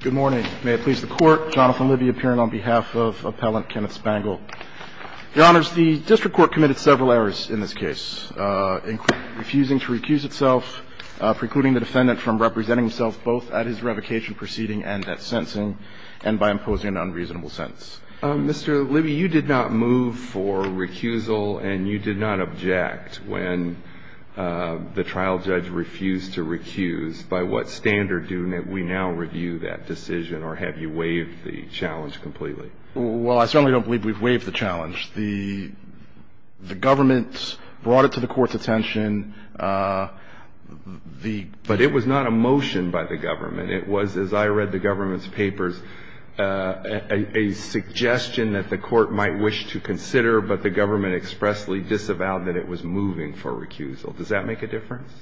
Good morning. May it please the Court. Jonathan Libby appearing on behalf of Appellant Kenneth Spangle. Your Honors, the District Court committed several errors in this case, including refusing to recuse itself, precluding the defendant from representing himself both at his revocation proceeding and at sentencing, and by imposing an unreasonable sentence. Mr. Libby, you did not move for recusal, and you did not object when the trial judge refused to recuse. By what standard do we now review that decision, or have you waived the challenge completely? Well, I certainly don't believe we've waived the challenge. The government brought it to the Court's attention. But it was not a motion by the government. It was, as I read the government's papers, a suggestion that the Court might wish to consider, but the government expressly disavowed that it was moving for recusal. Does that make a difference?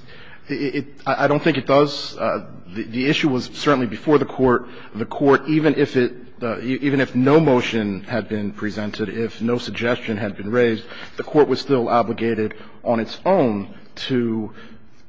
I don't think it does. The issue was certainly before the Court. The Court, even if it – even if no motion had been presented, if no suggestion had been raised, the Court was still obligated on its own to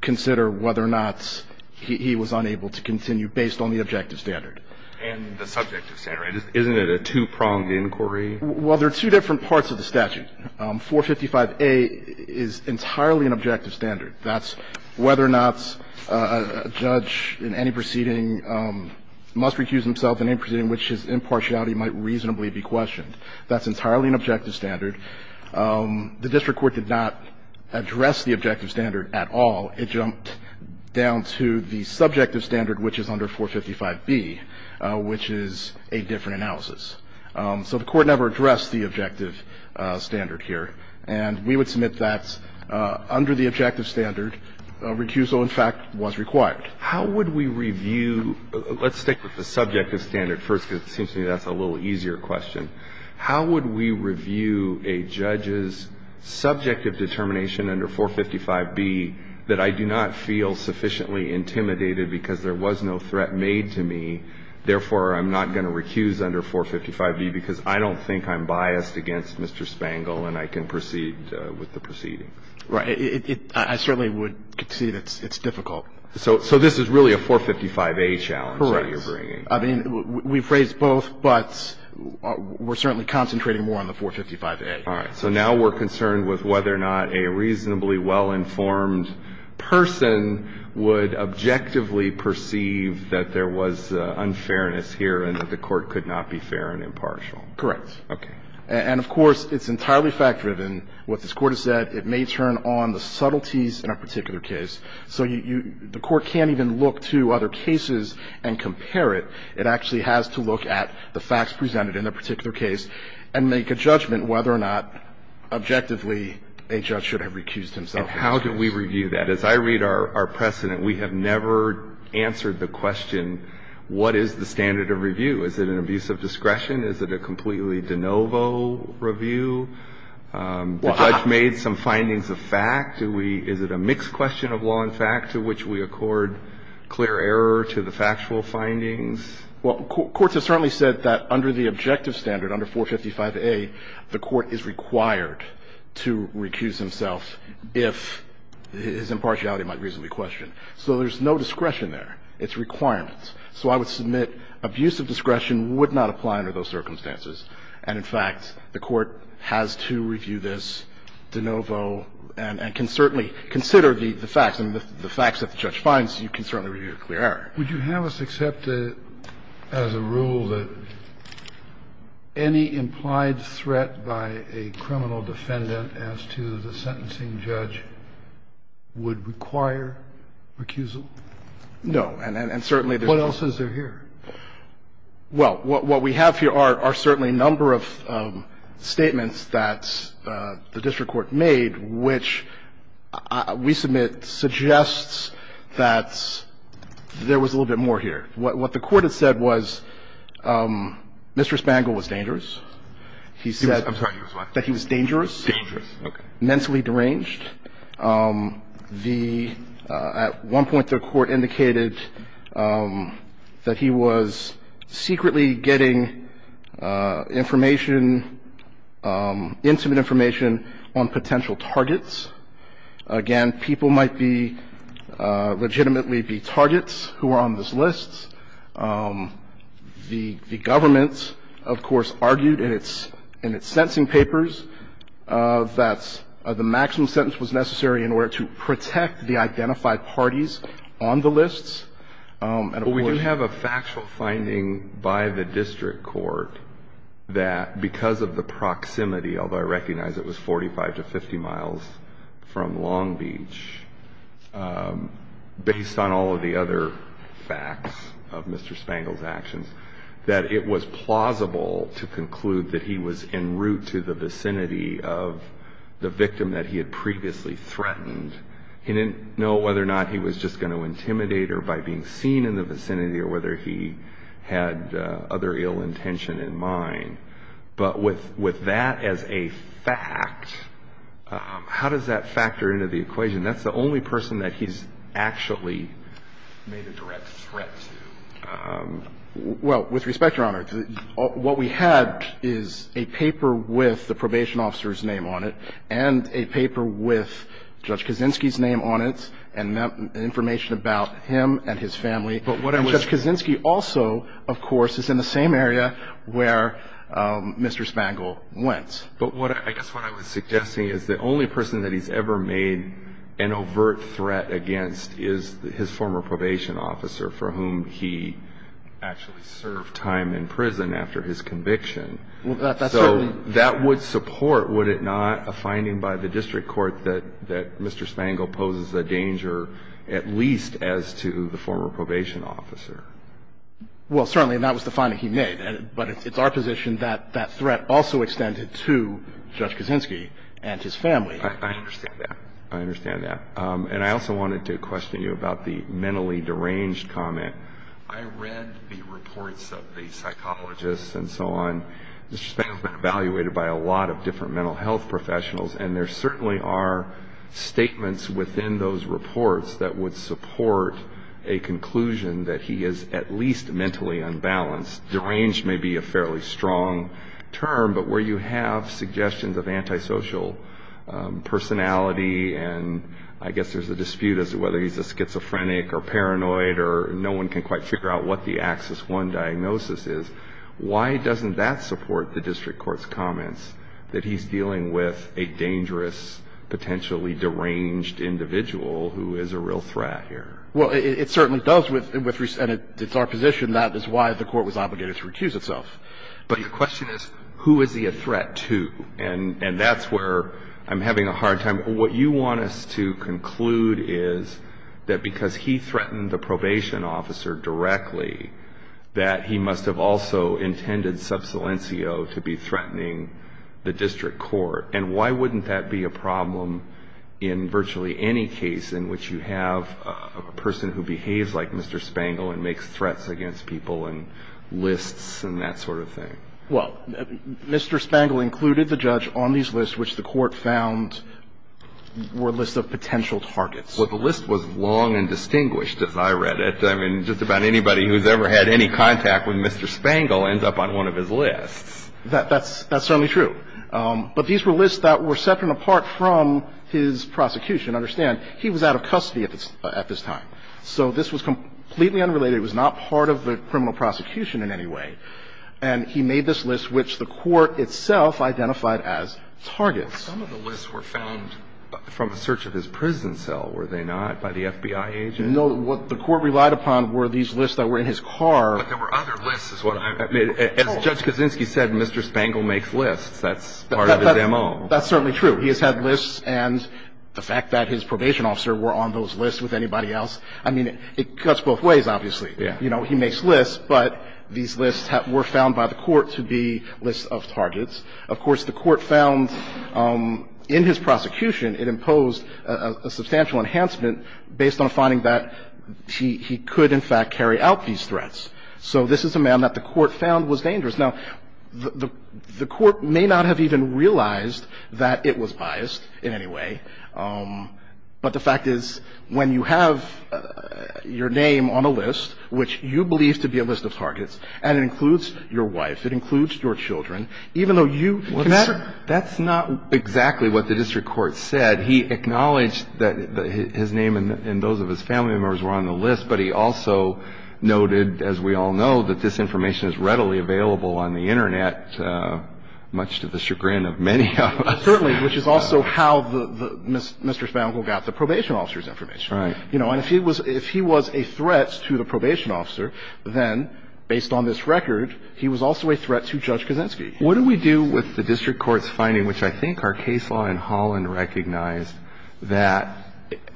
consider whether or not he was unable to continue based on the objective standard. And the subjective standard. Isn't it a two-pronged inquiry? Well, there are two different parts of the statute. 455a is entirely an objective standard. That's whether or not a judge in any proceeding must recuse himself in any proceeding in which his impartiality might reasonably be questioned. That's entirely an objective standard. The district court did not address the objective standard at all. It jumped down to the subjective standard, which is under 455b, which is a different analysis. So the Court never addressed the objective standard here. And we would submit that, under the objective standard, recusal, in fact, was required. How would we review – let's stick with the subjective standard first, because it seems to me that's a little easier question. How would we review a judge's subjective determination under 455b that I do not feel sufficiently intimidated because there was no threat made to me, therefore, I'm not going to recuse under 455b because I don't think I'm biased against Mr. Spangl and I can proceed with the proceedings? Right. I certainly would concede it's difficult. So this is really a 455a challenge that you're bringing. Correct. I mean, we've raised both, but we're certainly concentrating more on the 455a. All right. So now we're concerned with whether or not a reasonably well-informed person would objectively perceive that there was unfairness here and that the Court could not be fair and impartial. Correct. Okay. And, of course, it's entirely fact-driven. What this Court has said, it may turn on the subtleties in a particular case. So you – the Court can't even look to other cases and compare it. It actually has to look at the facts presented in a particular case and make a judgment whether or not, objectively, a judge should have recused himself. And how do we review that? As I read our precedent, we have never answered the question, what is the standard of review? Is it an abuse of discretion? Is it a completely de novo review? The judge made some findings of fact. Do we – is it a mixed question of law and fact to which we accord clear error to the factual findings? Well, courts have certainly said that under the objective standard, under 455a, the Court is required to recuse himself if his impartiality might reasonably question. So there's no discretion there. It's requirements. So I would submit abuse of discretion would not apply under those circumstances. And, in fact, the Court has to review this de novo and can certainly consider the facts and the facts that the judge finds. You can certainly review a clear error. Kennedy. Would you have us accept as a rule that any implied threat by a criminal defendant as to the sentencing judge would require recusal? No. And certainly there's no – What else is there here? Well, what we have here are certainly a number of statements that the district court made, which we submit suggests that there was a little bit more here. What the Court had said was Mr. Spangl was dangerous. He said that he was dangerous. Dangerous. Okay. Mentally deranged. The – at one point the Court indicated that he was secretly getting information – intimate information on potential targets. Again, people might be – legitimately be targets who are on this list. The government, of course, argued in its – in its sentencing papers that the maximum sentence was necessary in order to protect the identified parties on the lists. And of course – Well, we do have a factual finding by the district court that because of the proximity, although I recognize it was 45 to 50 miles from Long Beach, based on all of the other facts of Mr. Spangl's actions, that it was plausible to conclude that he was en route to the vicinity of the victim that he had previously threatened. He didn't know whether or not he was just going to intimidate her by being seen in the vicinity or whether he had other ill intention in mind. But with – with that as a fact, how does that factor into the equation? That's the only person that he's actually made a direct threat to. Well, with respect, Your Honor, what we had is a paper with the probation officer's name on it and a paper with Judge Kaczynski's name on it and information about him and his family. But what I was – And Judge Kaczynski also, of course, is in the same area where Mr. Spangl went. But what – I guess what I was suggesting is the only person that he's ever made an actually served time in prison after his conviction. Well, that's certainly – So that would support, would it not, a finding by the district court that – that Mr. Spangl poses a danger at least as to the former probation officer. Well, certainly, and that was the finding he made. But it's our position that that threat also extended to Judge Kaczynski and his family. I understand that. I understand that. And I also wanted to question you about the mentally deranged comment. I read the reports of the psychologists and so on. Mr. Spangl's been evaluated by a lot of different mental health professionals, and there certainly are statements within those reports that would support a conclusion that he is at least mentally unbalanced. Deranged may be a fairly strong term, but where you have suggestions of antisocial personality and I guess there's a dispute as to whether he's a schizophrenic or paranoid or no one can quite figure out what the Axis I diagnosis is, why doesn't that support the district court's comments that he's dealing with a dangerous, potentially deranged individual who is a real threat here? Well, it certainly does with – and it's our position that is why the court was obligated to recuse itself. But the question is, who is he a threat to? And that's where I'm having a hard time. What you want us to conclude is that because he threatened the probation officer directly, that he must have also intended Subsilencio to be threatening the district court. And why wouldn't that be a problem in virtually any case in which you have a person who behaves like Mr. Spangl and makes threats against people and lists and that sort of thing? Well, Mr. Spangl included the judge on these lists, which the court found were lists of potential targets. Well, the list was long and distinguished, as I read it. I mean, just about anybody who's ever had any contact with Mr. Spangl ends up on one of his lists. That's certainly true. But these were lists that were separate and apart from his prosecution. Understand, he was out of custody at this time. So this was completely unrelated. It was not part of the criminal prosecution in any way. And he made this list, which the court itself identified as targets. Some of the lists were found from a search of his prison cell, were they not, by the FBI agent? No. What the court relied upon were these lists that were in his car. But there were other lists is what I'm told. As Judge Kaczynski said, Mr. Spangl makes lists. That's part of the demo. That's certainly true. He has had lists. And the fact that his probation officer were on those lists with anybody else, I mean, it cuts both ways, obviously. Yeah. You know, he makes lists, but these lists were found by the court to be lists of targets. Of course, the court found in his prosecution, it imposed a substantial enhancement based on finding that he could, in fact, carry out these threats. So this is a man that the court found was dangerous. Now, the court may not have even realized that it was biased in any way, but the fact is, when you have your name on a list, which you believe to be a list of targets, and it includes your wife, it includes your children, even though you can add to that, that's not exactly what the district court said. He acknowledged that his name and those of his family members were on the list, but he also noted, as we all know, that this information is readily available on the Internet, much to the chagrin of many of us. Certainly, which is also how Mr. Spankle got the probation officer's information. Right. You know, and if he was a threat to the probation officer, then, based on this record, he was also a threat to Judge Kozinski. What do we do with the district court's finding, which I think our case law in Holland recognized that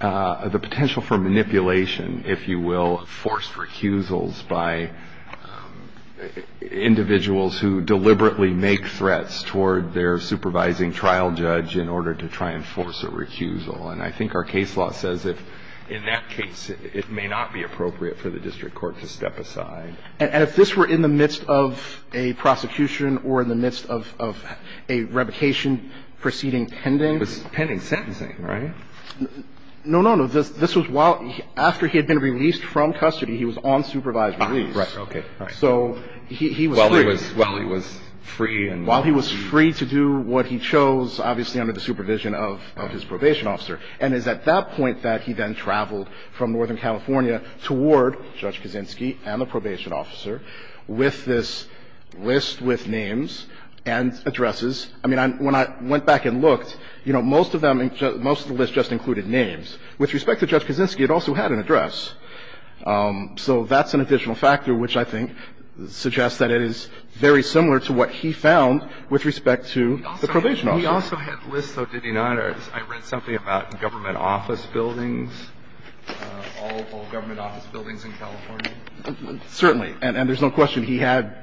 the potential for manipulation, if you will, forced recusals by individuals who deliberately make threats toward their supervising trial judge in order to try and force a recusal. And I think our case law says if, in that case, it may not be appropriate for the district court to step aside. And if this were in the midst of a prosecution or in the midst of a revocation proceeding pending? It was pending sentencing, right? No, no, no. This was while he – after he had been released from custody, he was on supervised release. Right. Okay. Right. So he was free. While he was – while he was free and – While he was free to do what he chose, obviously, under the supervision of his probation officer. And it's at that point that he then traveled from Northern California toward Judge Kozinski and the probation officer with this list with names and addresses. I mean, when I went back and looked, you know, most of them – most of the list just included names. With respect to Judge Kozinski, it also had an address. So that's an additional factor, which I think suggests that it is very similar to what he found with respect to the probation officer. He also had lists, though, did he not? I read something about government office buildings, all government office buildings in California. Certainly. And there's no question he had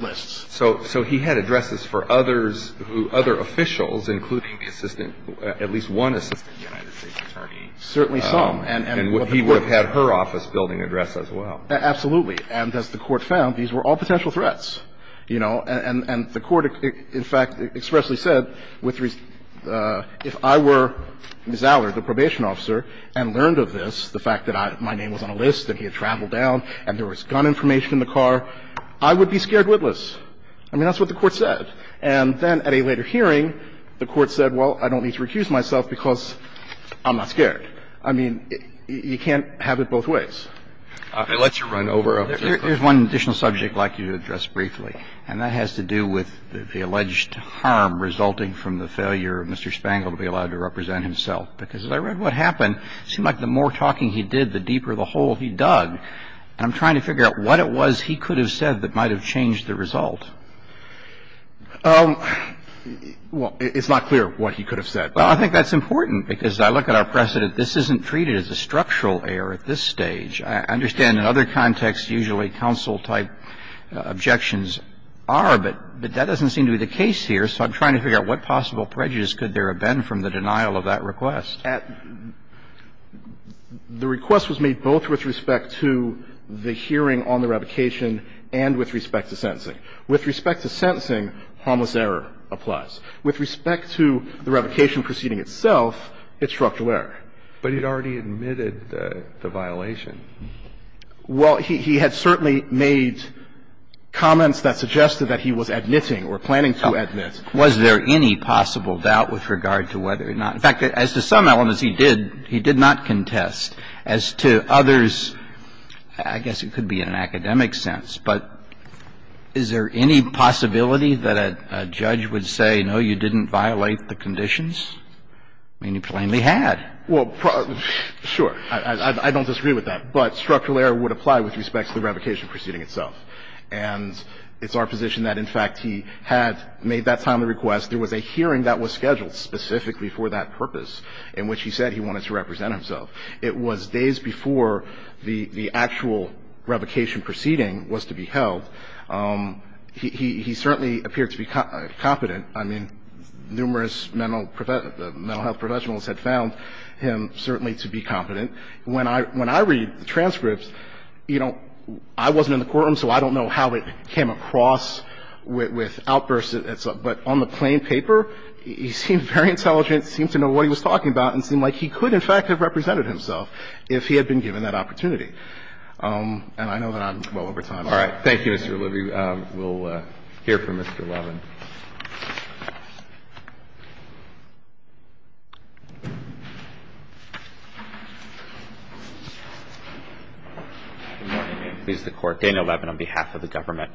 lists. So he had addresses for others who – other officials, including the assistant – at least one assistant United States attorney. Certainly some. And he would have had her office building address as well. Absolutely. And as the Court found, these were all potential threats. You know, and the Court, in fact, expressly said, if I were Ms. Allard, the probation officer, and learned of this, the fact that my name was on a list and he had traveled down and there was gun information in the car, I would be scared witless. I mean, that's what the Court said. And then at a later hearing, the Court said, well, I don't need to recuse myself because I'm not scared. I mean, you can't have it both ways. It lets you run over a person. There's one additional subject I'd like you to address briefly, and that has to do with the alleged harm resulting from the failure of Mr. Spangl to be allowed to represent himself. Because as I read what happened, it seemed like the more talking he did, the deeper the hole he dug. And I'm trying to figure out what it was he could have said that might have changed the result. Well, it's not clear what he could have said. Well, I think that's important, because I look at our precedent. This isn't treated as a structural error at this stage. I understand in other contexts usually counsel-type objections are, but that doesn't seem to be the case here, so I'm trying to figure out what possible prejudice could there have been from the denial of that request. The request was made both with respect to the hearing on the revocation and with respect to sentencing. With respect to sentencing, harmless error applies. With respect to the revocation proceeding itself, it's structural error. But he'd already admitted the violation. Well, he had certainly made comments that suggested that he was admitting or planning to admit. Was there any possible doubt with regard to whether or not – in fact, as to some elements he did, he did not contest. As to others, I guess it could be in an academic sense, but is there any possibility that a judge would say, no, you didn't violate the conditions? I mean, he plainly had. Well, sure. I don't disagree with that. But structural error would apply with respect to the revocation proceeding itself. And it's our position that, in fact, he had made that timely request. There was a hearing that was scheduled specifically for that purpose in which he said he wanted to represent himself. It was days before the actual revocation proceeding was to be held. He certainly appeared to be competent. I mean, numerous mental health professionals had found him certainly to be competent. When I read the transcripts, you know, I wasn't in the courtroom, so I don't know how it came across with outbursts and stuff. But on the plain paper, he seemed very intelligent, seemed to know what he was talking about, and seemed like he could, in fact, have represented himself if he had been given that opportunity. And I know that I'm well over time. All right. Thank you, Mr. O'Leary. We'll hear from Mr. Levin. Good morning, and pleased to court. Dana Levin on behalf of the government.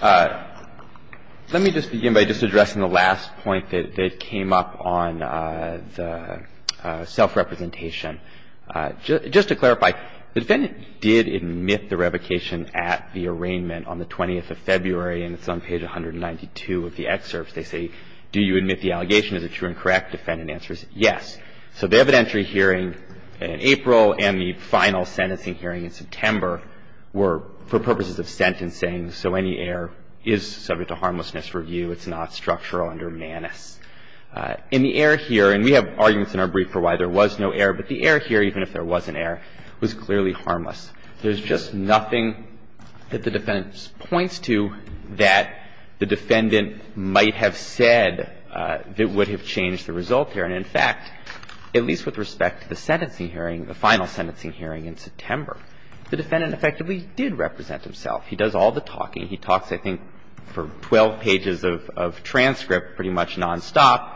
Let me just begin by just addressing the last point that came up on the self-representation. Just to clarify, the defendant did admit the revocation at the arraignment on the 20th of February, and it's on page 192 of the excerpts. They say, do you admit the allegation? Is it true and correct? The defendant answers, yes. So the evidentiary hearing in April and the final sentencing hearing in September were for purposes of sentencing, so any error is subject to harmlessness review. It's not structural under Manis. In the error here, and we have arguments in our brief for why there was no error, but the error here, even if there was an error, was clearly harmless. There's just nothing that the defendant points to that the defendant might have said that would have changed the result here. And, in fact, at least with respect to the sentencing hearing, the final sentencing hearing in September, the defendant effectively did represent himself. He does all the talking. He talks, I think, for 12 pages of transcript pretty much nonstop.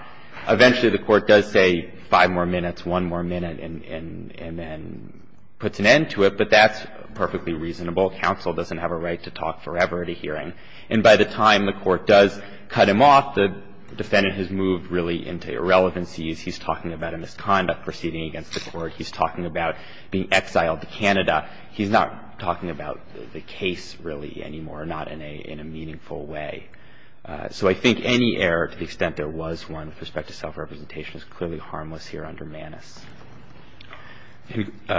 Eventually the Court does say five more minutes, one more minute, and then puts an end to it, but that's perfectly reasonable. Counsel doesn't have a right to talk forever at a hearing. And by the time the Court does cut him off, the defendant has moved really into irrelevancies. He's talking about a misconduct proceeding against the Court. He's talking about being exiled to Canada. He's not talking about the case really anymore, not in a meaningful way. So I think any error to the extent there was one with respect to self-representation is clearly harmless here under Manus.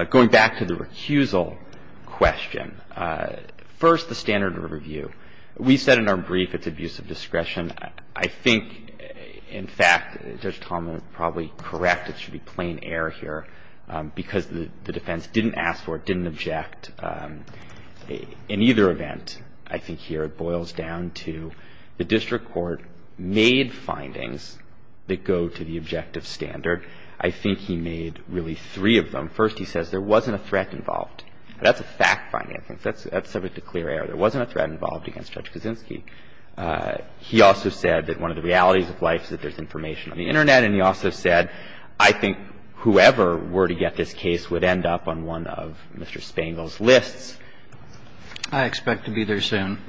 Going back to the recusal question, first the standard of review. We said in our brief it's abuse of discretion. I think, in fact, Judge Tallman is probably correct. It should be plain error here because the defense didn't ask for it, didn't object. In either event, I think here it boils down to the district court made findings that go to the objective standard. I think he made really three of them. First, he says there wasn't a threat involved. That's a fact finding. That's subject to clear error. There wasn't a threat involved against Judge Kaczynski. He also said that one of the realities of life is that there's information on the Internet. And he also said, I think whoever were to get this case would end up on one of Mr. Spangel's lists. I expect to be there soon.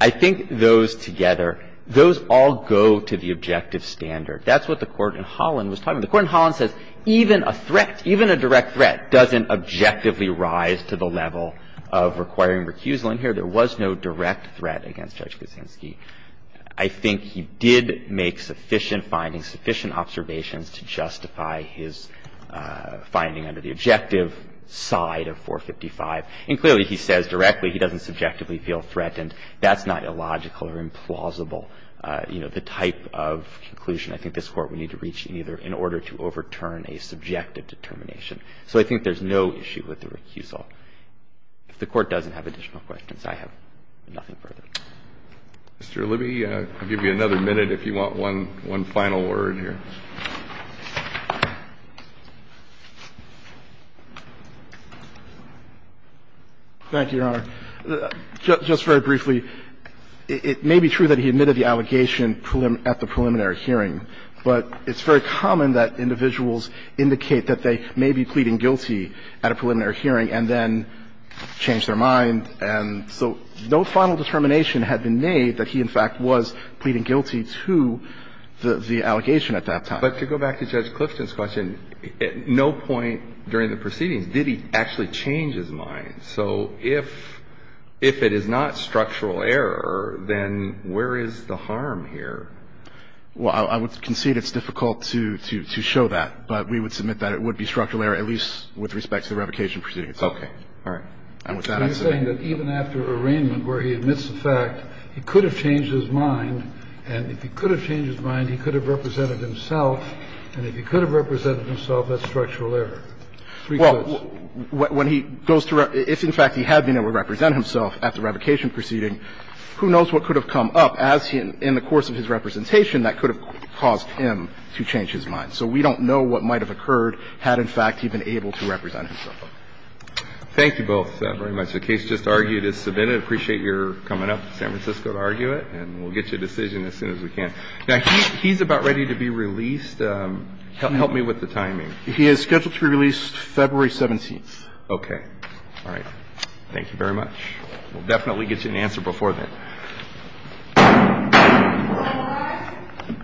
I think those together, those all go to the objective standard. That's what the Court in Holland was talking about. The Court in Holland says even a threat, even a direct threat doesn't objectively rise to the level of requiring recusal. In here, there was no direct threat against Judge Kaczynski. I think he did make sufficient findings, sufficient observations to justify his finding under the objective side of 455. And clearly, he says directly he doesn't subjectively feel threatened. That's not illogical or implausible, you know, the type of conclusion I think this Court would need to reach either in order to overturn a subjective determination. So I think there's no issue with the recusal. If the Court doesn't have additional questions, I have nothing further. Mr. Libby, I'll give you another minute if you want one final word here. Thank you, Your Honor. Just very briefly, it may be true that he admitted the allegation at the preliminary hearing, but it's very common that individuals indicate that they may be pleading guilty at a preliminary hearing and then change their mind. And so no final determination had been made that he, in fact, was pleading guilty to the allegation at that time. But to go back to Judge Clifton's question, at no point during the proceedings did he actually change his mind. So if it is not structural error, then where is the harm here? Well, I would concede it's difficult to show that, but we would submit that it would be structural error, at least with respect to the revocation proceeding itself. Okay. All right. And with that, I'm saying that even after arraignment where he admits the fact he could have changed his mind, and if he could have changed his mind, he could have represented himself, and if he could have represented himself, that's structural error. Well, when he goes to ref – if, in fact, he had been able to represent himself at the revocation proceeding, who knows what could have come up as he – in the course of his representation that could have caused him to change his mind. So we don't know what might have occurred had, in fact, he been able to represent himself. Thank you both very much. The case just argued is submitted. I appreciate your coming up to San Francisco to argue it, and we'll get you a decision as soon as we can. Now, he's about ready to be released. Help me with the timing. He is scheduled to be released February 17th. Okay. All right. Thank you very much. We'll definitely get you an answer before then. Thank you very much.